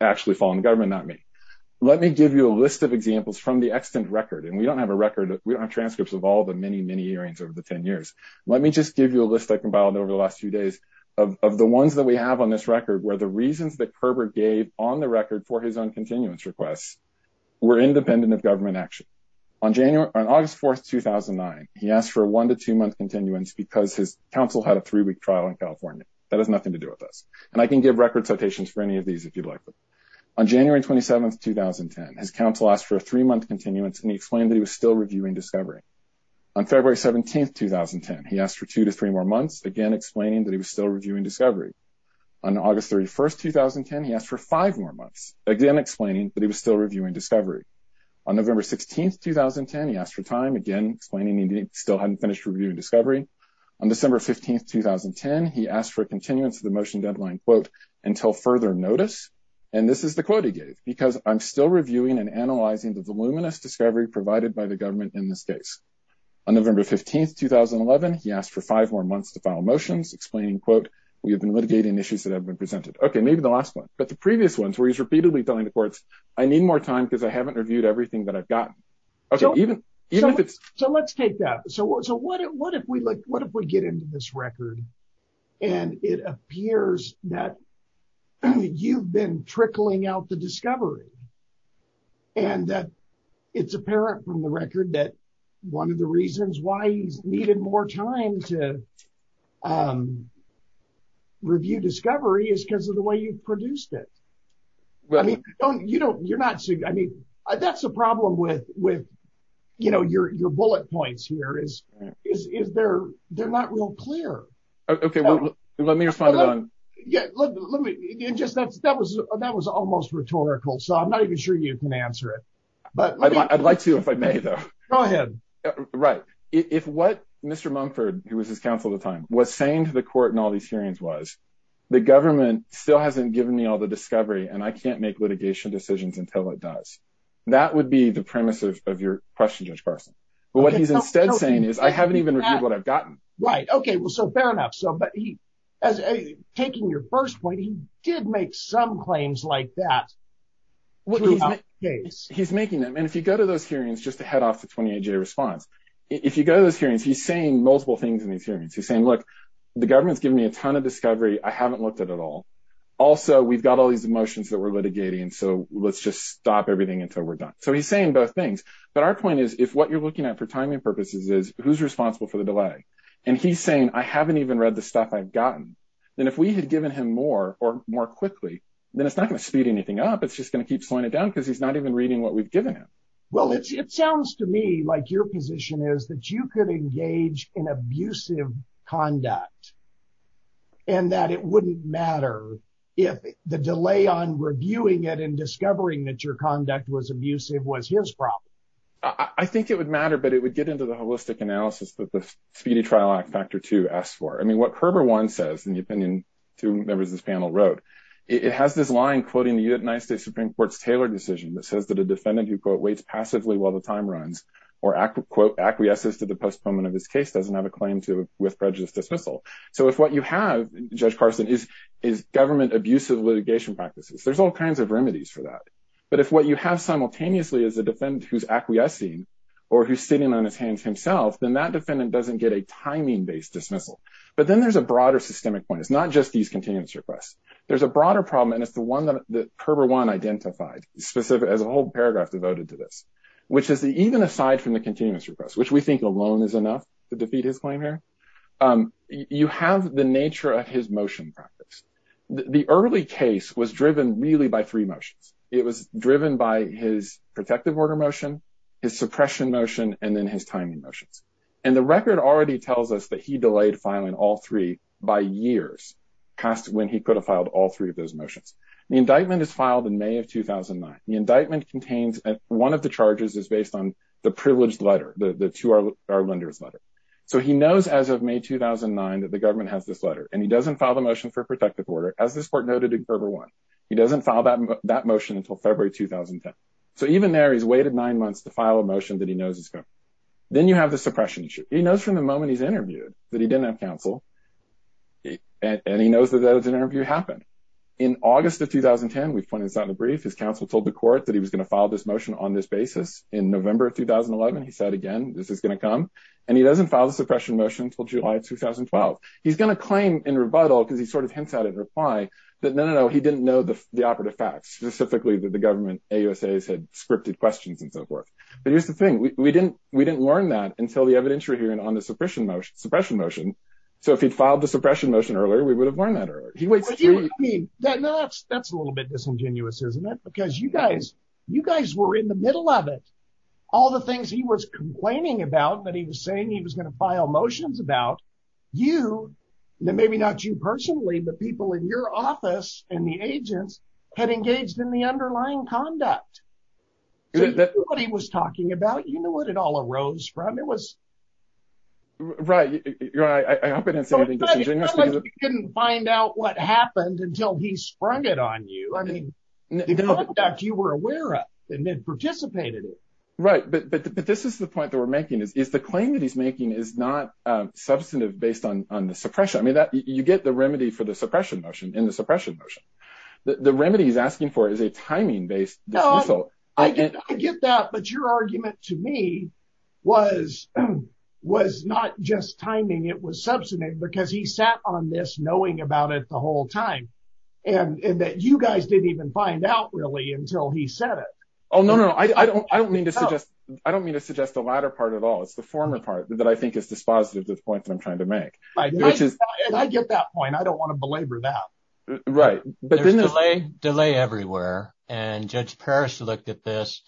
actually fall on the government, not me. Let me give you a list of examples from the extant record, and we don't have a record. We don't have transcripts of all the many, many hearings over the 10 years. Let me just give you a list I compiled over the last few days of the ones that we have on this record, where the reasons that Kerber gave on the record for his own continuance requests were independent of government action. On August 4, 2009, he asked for a one- to two-month continuance because his counsel had a three-week trial in California. That has nothing to do with us, and I can give record citations for any of these if you'd like. On January 27, 2010, his counsel asked for a three-month continuance, and he explained that he was still reviewing discovery. On February 17, 2010, he asked for two to three more months, again explaining that he was still reviewing discovery. On August 31, 2010, he asked for five more months, again explaining that he was still reviewing discovery. On November 16, 2010, he asked for time, again explaining he still hadn't finished reviewing discovery. On December 15, 2010, he asked for a continuance of the motion deadline, quote, until further notice, and this is the quote he gave, because I'm still reviewing and analyzing the voluminous discovery provided by the government in this case. On November 15, 2011, he asked for five more months to file motions, explaining, quote, we have been litigating issues that have been presented. Okay, maybe the last one, but the previous ones where he's repeatedly telling the courts, I need more time because I haven't reviewed everything that I've gotten. So let's take that. So what if we get into this record, and it appears that you've been trickling out the discovery, and that it's apparent from the record that one of the reasons why he's needed more time to review discovery is because of the way you've produced it. You know, you're not, I mean, that's the problem with, with, you know, your bullet points here is, is there, they're not real clear. Okay, let me respond. Yeah, let me just that's that was that was almost rhetorical so I'm not even sure you can answer it, but I'd like to if I may, though, go ahead. Right. If what Mr Mumford, who was his counsel at the time was saying to the court and all these hearings was the government still hasn't given me all the discovery and I can't make litigation decisions until it does. That would be the premise of your question, Judge Barson, but what he's instead saying is I haven't even read what I've gotten right okay well so fair enough so but he has a taking your first point he did make some claims like that. He's making them and if you go to those hearings just to head off to 28 day response. If you go to those hearings he's saying multiple things in these hearings he's saying look, the government's given me a ton of discovery, I haven't looked at it all. Also, we've got all these emotions that we're litigating so let's just stop everything until we're done. So he's saying both things. But our point is, if what you're looking at for timing purposes is who's responsible for the delay. And he's saying I haven't even read the stuff I've gotten. And if we had given him more or more quickly, then it's not going to speed anything up it's just going to keep slowing it down because he's not even reading what we've given him. Well, it sounds to me like your position is that you could engage in abusive conduct, and that it wouldn't matter if the delay on reviewing it and discovering that your conduct was abusive was his problem. I think it would matter but it would get into the holistic analysis that the speedy trial act factor to ask for I mean what Herber one says in the opinion to members this panel road. It has this line quoting the United States Supreme Court's Taylor decision that says that a defendant who quote waits passively while the time runs or accurate quote acquiesces to the postponement of this case doesn't have a claim to with prejudice dismissal. So if what you have, Judge Carson is is government abusive litigation practices there's all kinds of remedies for that. But if what you have simultaneously as a defendant who's acquiescing, or who's sitting on his hands himself then that defendant doesn't get a timing based dismissal. But then there's a broader systemic point it's not just these continuous requests. There's a broader problem and it's the one that Herber one identified specific as a whole paragraph devoted to this, which is the even aside from the continuous request which we think alone is enough to defeat his claim here. You have the nature of his motion practice. The early case was driven really by three motions. It was driven by his protective order motion, his suppression motion, and then his timing motions. And the record already tells us that he delayed filing all three by years cost when he could have filed all three of those motions, the indictment is filed in May of 2009 the indictment contains one of the charges is based on the privileged letter, the to our lenders letter. So he knows as of May 2009 that the government has this letter and he doesn't file the motion for protective order, as this court noted in Gerber one, he doesn't file that that motion until February 2010. So even there he's waited nine months to file a motion that he knows is good. Then you have the suppression issue, he knows from the moment he's interviewed that he didn't have counsel. And he knows that that was an interview happened in August of 2010 we've put inside the brief his counsel told the court that he was going to file this motion on this basis in November 2011 he said again, this is going to come. And he doesn't file the suppression motion until July 2012, he's going to claim in rebuttal because he sort of hints out in reply that no no he didn't know the operative facts specifically that the government USA has had scripted questions and so forth. But here's the thing we didn't, we didn't learn that until the evidentiary hearing on the suppression motion suppression motion. So if he'd filed a suppression motion earlier we would have learned that or he waits. That's that's a little bit disingenuous isn't it because you guys, you guys were in the middle of it. All the things he was complaining about that he was saying he was going to file motions about you. Maybe not you personally but people in your office, and the agents had engaged in the underlying conduct that he was talking about you know what it all arose from it was right. I didn't find out what happened until he sprung it on you. I mean, you were aware of, and then participated. Right, but this is the point that we're making is is the claim that he's making is not substantive based on on the suppression I mean that you get the remedy for the suppression motion in the suppression motion. The remedy is asking for is a timing based. No, I get that but your argument to me was, was not just timing it was substantive because he sat on this knowing about it the whole time, and that you guys didn't even find out really until he said it. Well, no, no, I don't, I don't mean to suggest, I don't mean to suggest the latter part at all it's the former part that I think is dispositive to the point that I'm trying to make, which is, I get that point I don't want to belabor that. Right, but then the delay delay everywhere, and Judge Paris looked at this,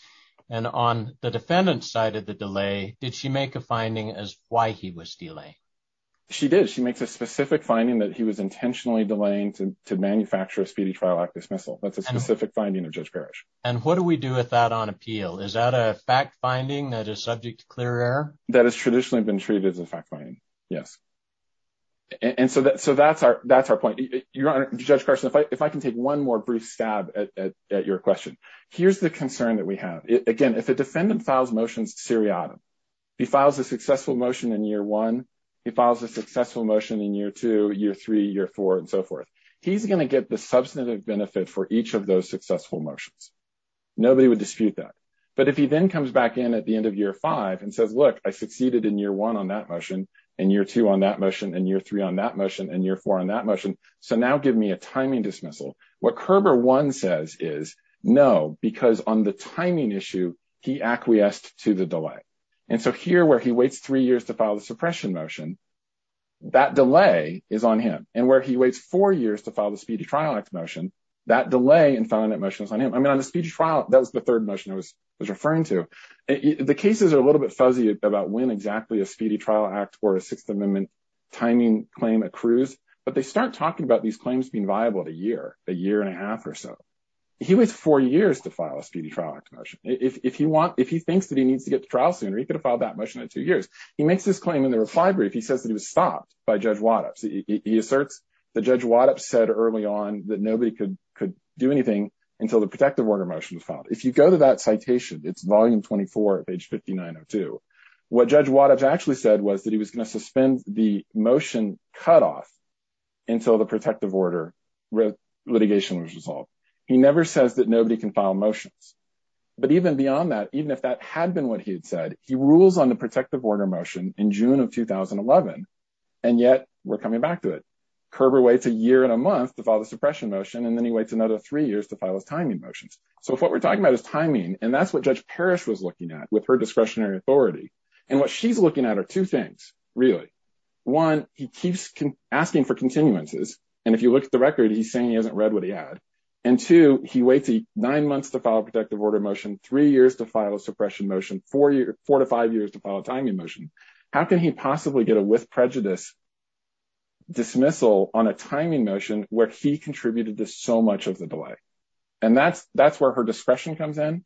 and on the defendant side of the delay, did she make a finding as why he was stealing. She did she makes a specific finding that he was intentionally delaying to manufacture a speedy trial dismissal, that's a specific finding of judge parish, and what do we do with that on appeal is that a fact finding that is subject to clear air that is traditionally been treated as a fact finding. Yes. And so that so that's our, that's our point, your honor, Judge Carson if I if I can take one more brief stab at your question. Here's the concern that we have it again if a defendant files motions to Siri Adam, he files a successful motion in year one, he files a successful motion in year two year three year four and so forth. He's going to get the substantive benefit for each of those successful motions. Nobody would dispute that. But if he then comes back in at the end of year five and says look I succeeded in year one on that motion, and year two on that motion and year three on that motion and year four on that motion. So now give me a timing dismissal. What Kerber one says is no, because on the timing issue, he acquiesced to the delay. And so here where he waits three years to file the suppression motion that delay is on him, and where he waits four years to file the speedy trial act motion that delay and found that motions on him I mean on the speech trial, that was the third motion I was referring to the cases are a little bit fuzzy about when exactly a speedy trial act or a Sixth Amendment timing claim accrues, but they start talking about these claims being viable a year, a year and a half or so. He was four years to file a speedy trial act motion, if you want, if he thinks that he needs to get to trial sooner he could have filed that motion in two years, he makes this claim in the reply brief he says that he was stopped by Judge Wattups he asserts the judge Wattups said early on that nobody could could do anything until the protective order motion was found. If you go to that citation, it's volume 24 page 5902. What Judge Wattups actually said was that he was going to suspend the motion cut off until the protective order with litigation was resolved. He never says that nobody can file motions. But even beyond that, even if that had been what he had said he rules on the protective order motion in June of 2011. And yet, we're coming back to it. And then he waits another three years to file his timing motions. So if what we're talking about is timing, and that's what Judge Parrish was looking at with her discretionary authority, and what she's looking at are two things, really. One, he keeps asking for continuances. And if you look at the record he's saying he hasn't read what he had. And two, he waits nine months to file protective order motion three years to file a suppression motion four years, four to five years to file a timing motion. How can he possibly get a with prejudice dismissal on a timing motion where he contributed to so much of the delay. And that's, that's where her discretion comes in.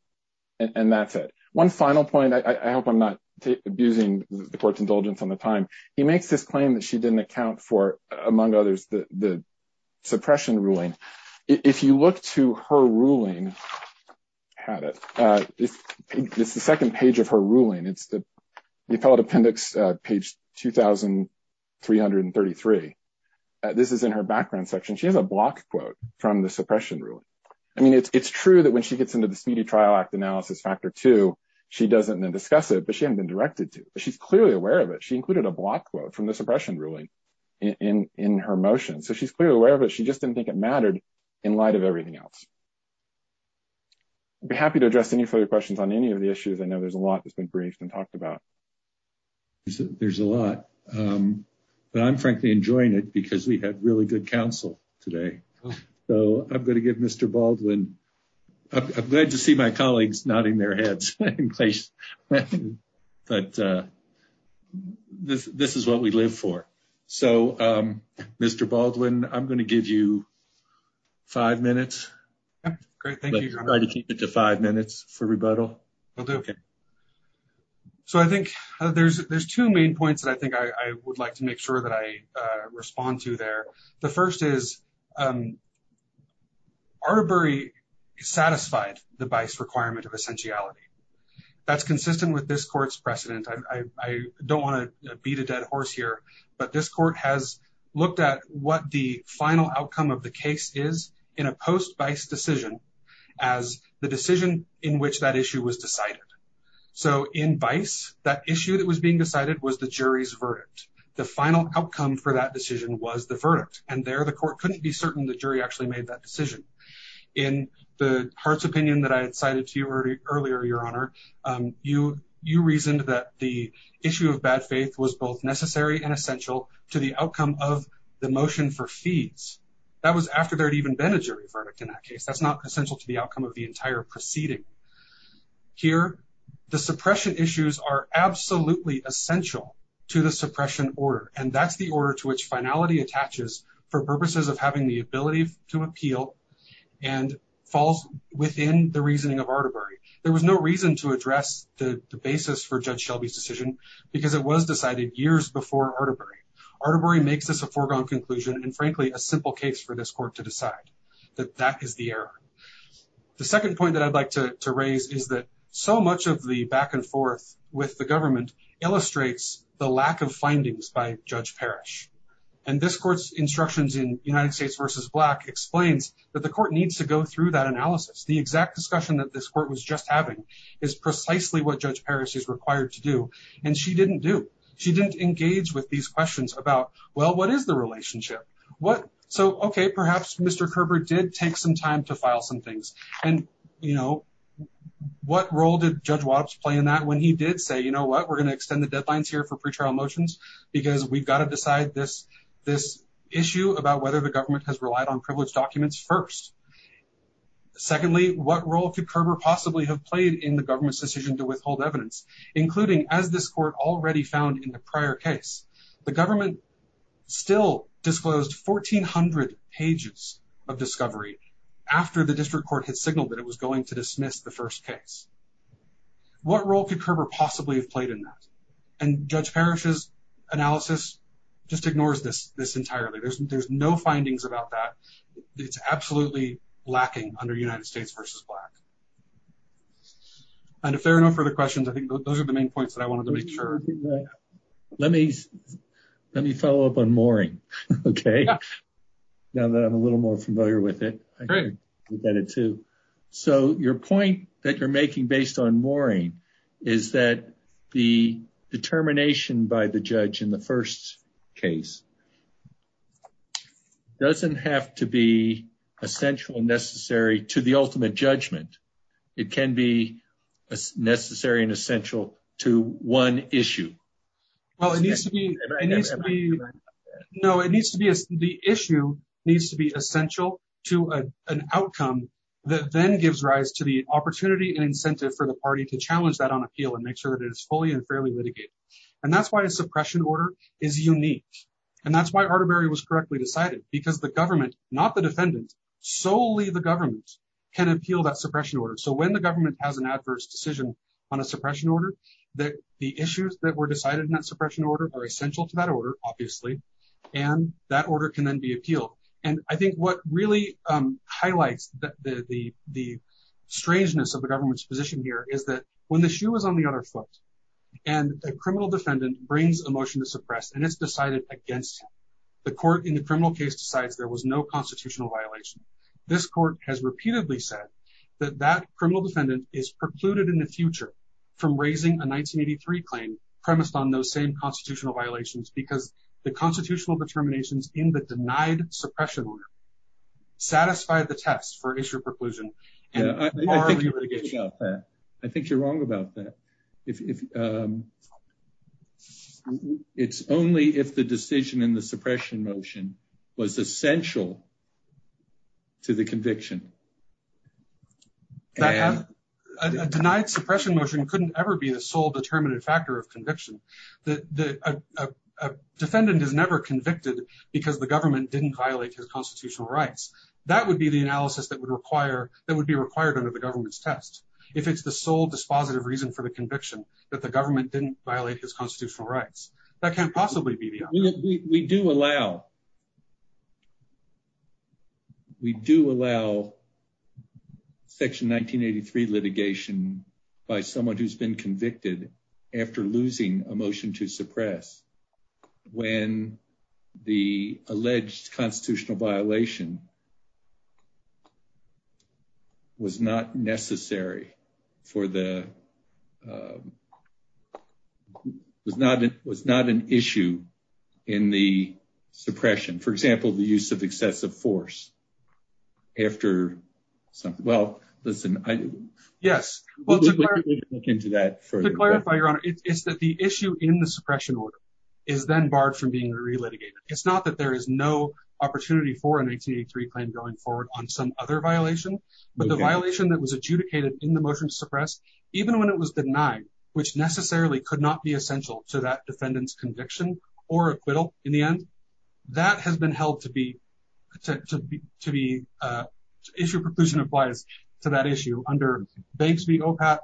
And that's it. One final point I hope I'm not abusing the court's indulgence on the time, he makes this claim that she didn't account for, among others, the suppression ruling. If you look to her ruling had it. It's the second page of her ruling it's the appellate appendix page 2333. This is in her background section she has a block quote from the suppression ruling. I mean it's true that when she gets into the speedy trial act analysis factor two, she doesn't discuss it but she hadn't been directed to, she's clearly aware of it she included a block quote from the suppression ruling in in her motion so she's clearly aware of it she just didn't think it mattered. In light of everything else. Be happy to address any further questions on any of the issues I know there's a lot that's been briefed and talked about. There's a lot. But I'm frankly enjoying it because we had really good counsel today. So I'm going to give Mr Baldwin. I'm glad to see my colleagues nodding their heads in place. But this, this is what we live for. So, Mr Baldwin, I'm going to give you five minutes. Five minutes for rebuttal. Okay. So I think there's there's two main points that I think I would like to make sure that I respond to there. The first is Arbery satisfied the vice requirement of essentiality. That's consistent with this court's precedent I don't want to beat a dead horse here, but this court has looked at what the final outcome of the case is in a post vice decision as the decision in which that issue was decided. So in vice that issue that was being decided was the jury's verdict. The final outcome for that decision was the verdict, and there the court couldn't be certain the jury actually made that decision. In the heart's opinion that I had cited to you earlier, your honor, you, you reasoned that the issue of bad faith was both necessary and essential to the outcome of the motion for fees. That was after there had even been a jury verdict in that case that's not essential to the outcome of the entire proceeding. Here, the suppression issues are absolutely essential to the suppression order and that's the order to which finality attaches for purposes of having the ability to appeal and falls within the reasoning of artery. There was no reason to address the basis for judge Shelby's decision, because it was decided years before artery artery makes us a foregone conclusion and frankly a simple case for this court to decide that that is the error. The second point that I'd like to raise is that so much of the back and forth with the government illustrates the lack of findings by judge perish. And this court's instructions in United States versus black explains that the court needs to go through that analysis the exact discussion that this court was just having is precisely what judge Paris is required to do, and she didn't do. She didn't engage with these questions about, well, what is the relationship. What so okay perhaps Mr Kerber did take some time to file some things, and, you know, what role did judge was playing that when he did say you know what we're going to extend the deadlines here for pre trial motions, because we've got to decide this, this issue about whether the government has relied on privilege documents first. Secondly, what role could Kerber possibly have played in the government's decision to withhold evidence, including as this court already found in the prior case, the government still disclosed 1400 pages of discovery. After the district court had signaled that it was going to dismiss the first case. What role could Kerber possibly have played in that. And judge parishes analysis, just ignores this this entirely there's there's no findings about that. It's absolutely lacking under United States versus black. And if there are no further questions I think those are the main points that I wanted to make sure. Let me, let me follow up on morning. Okay. Now that I'm a little more familiar with it. So your point that you're making based on morning, is that the determination by the judge in the first case, doesn't have to be essential necessary to the ultimate judgment. It can be necessary and essential to one issue. Well, it needs to be. No, it needs to be as the issue needs to be essential to an outcome that then gives rise to the opportunity and incentive for the party to challenge that on appeal and make sure that it's fully and fairly litigated. And that's why suppression order is unique. And that's why artery was correctly decided, because the government, not the defendant, solely the government can appeal that suppression order so when the government has an adverse decision on a suppression order that the issues that were decided in that suppression order are essential to that order, obviously, and that order can then be appealed. And I think what really highlights that the, the, the strangeness of the government's position here is that when the shoe was on the other foot, and a criminal defendant brings emotion to suppress and it's decided against the court in the criminal case decides there was no constitutional violation. This court has repeatedly said that that criminal defendant is precluded in the future from raising a 1983 claim premised on those same constitutional violations because the constitutional determinations in the denied suppression satisfied the test for issue was essential to the conviction denied suppression motion couldn't ever be the sole determinate factor of conviction, that the defendant is never convicted, because the government didn't violate his constitutional rights, that would be the analysis that would require that would be required under the government's test. If it's the sole dispositive reason for the conviction that the government didn't violate his constitutional rights, that can't possibly be we do allow. We do allow section 1983 litigation by someone who's been convicted after losing a motion to suppress when the alleged constitutional violation was not necessary for the was not, it was not an issue in the suppression order. It's not that there is no opportunity for an 1883 claim going forward on some other violation, but the violation that was adjudicated in the motion to suppress, even when it was denied, which necessarily could not be essential to that defendants conviction or acquittal. In the end, that has been held to be to be to be issued proclusion applies to that issue under Banks v. Opat,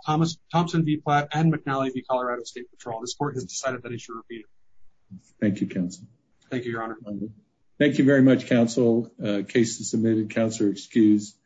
Thompson v. Platt, and McNally v. Colorado State Patrol. This court has decided that issue to be. Thank you, counsel. Thank you, Your Honor. Thank you very much, counsel. Case is submitted. Counselor excused.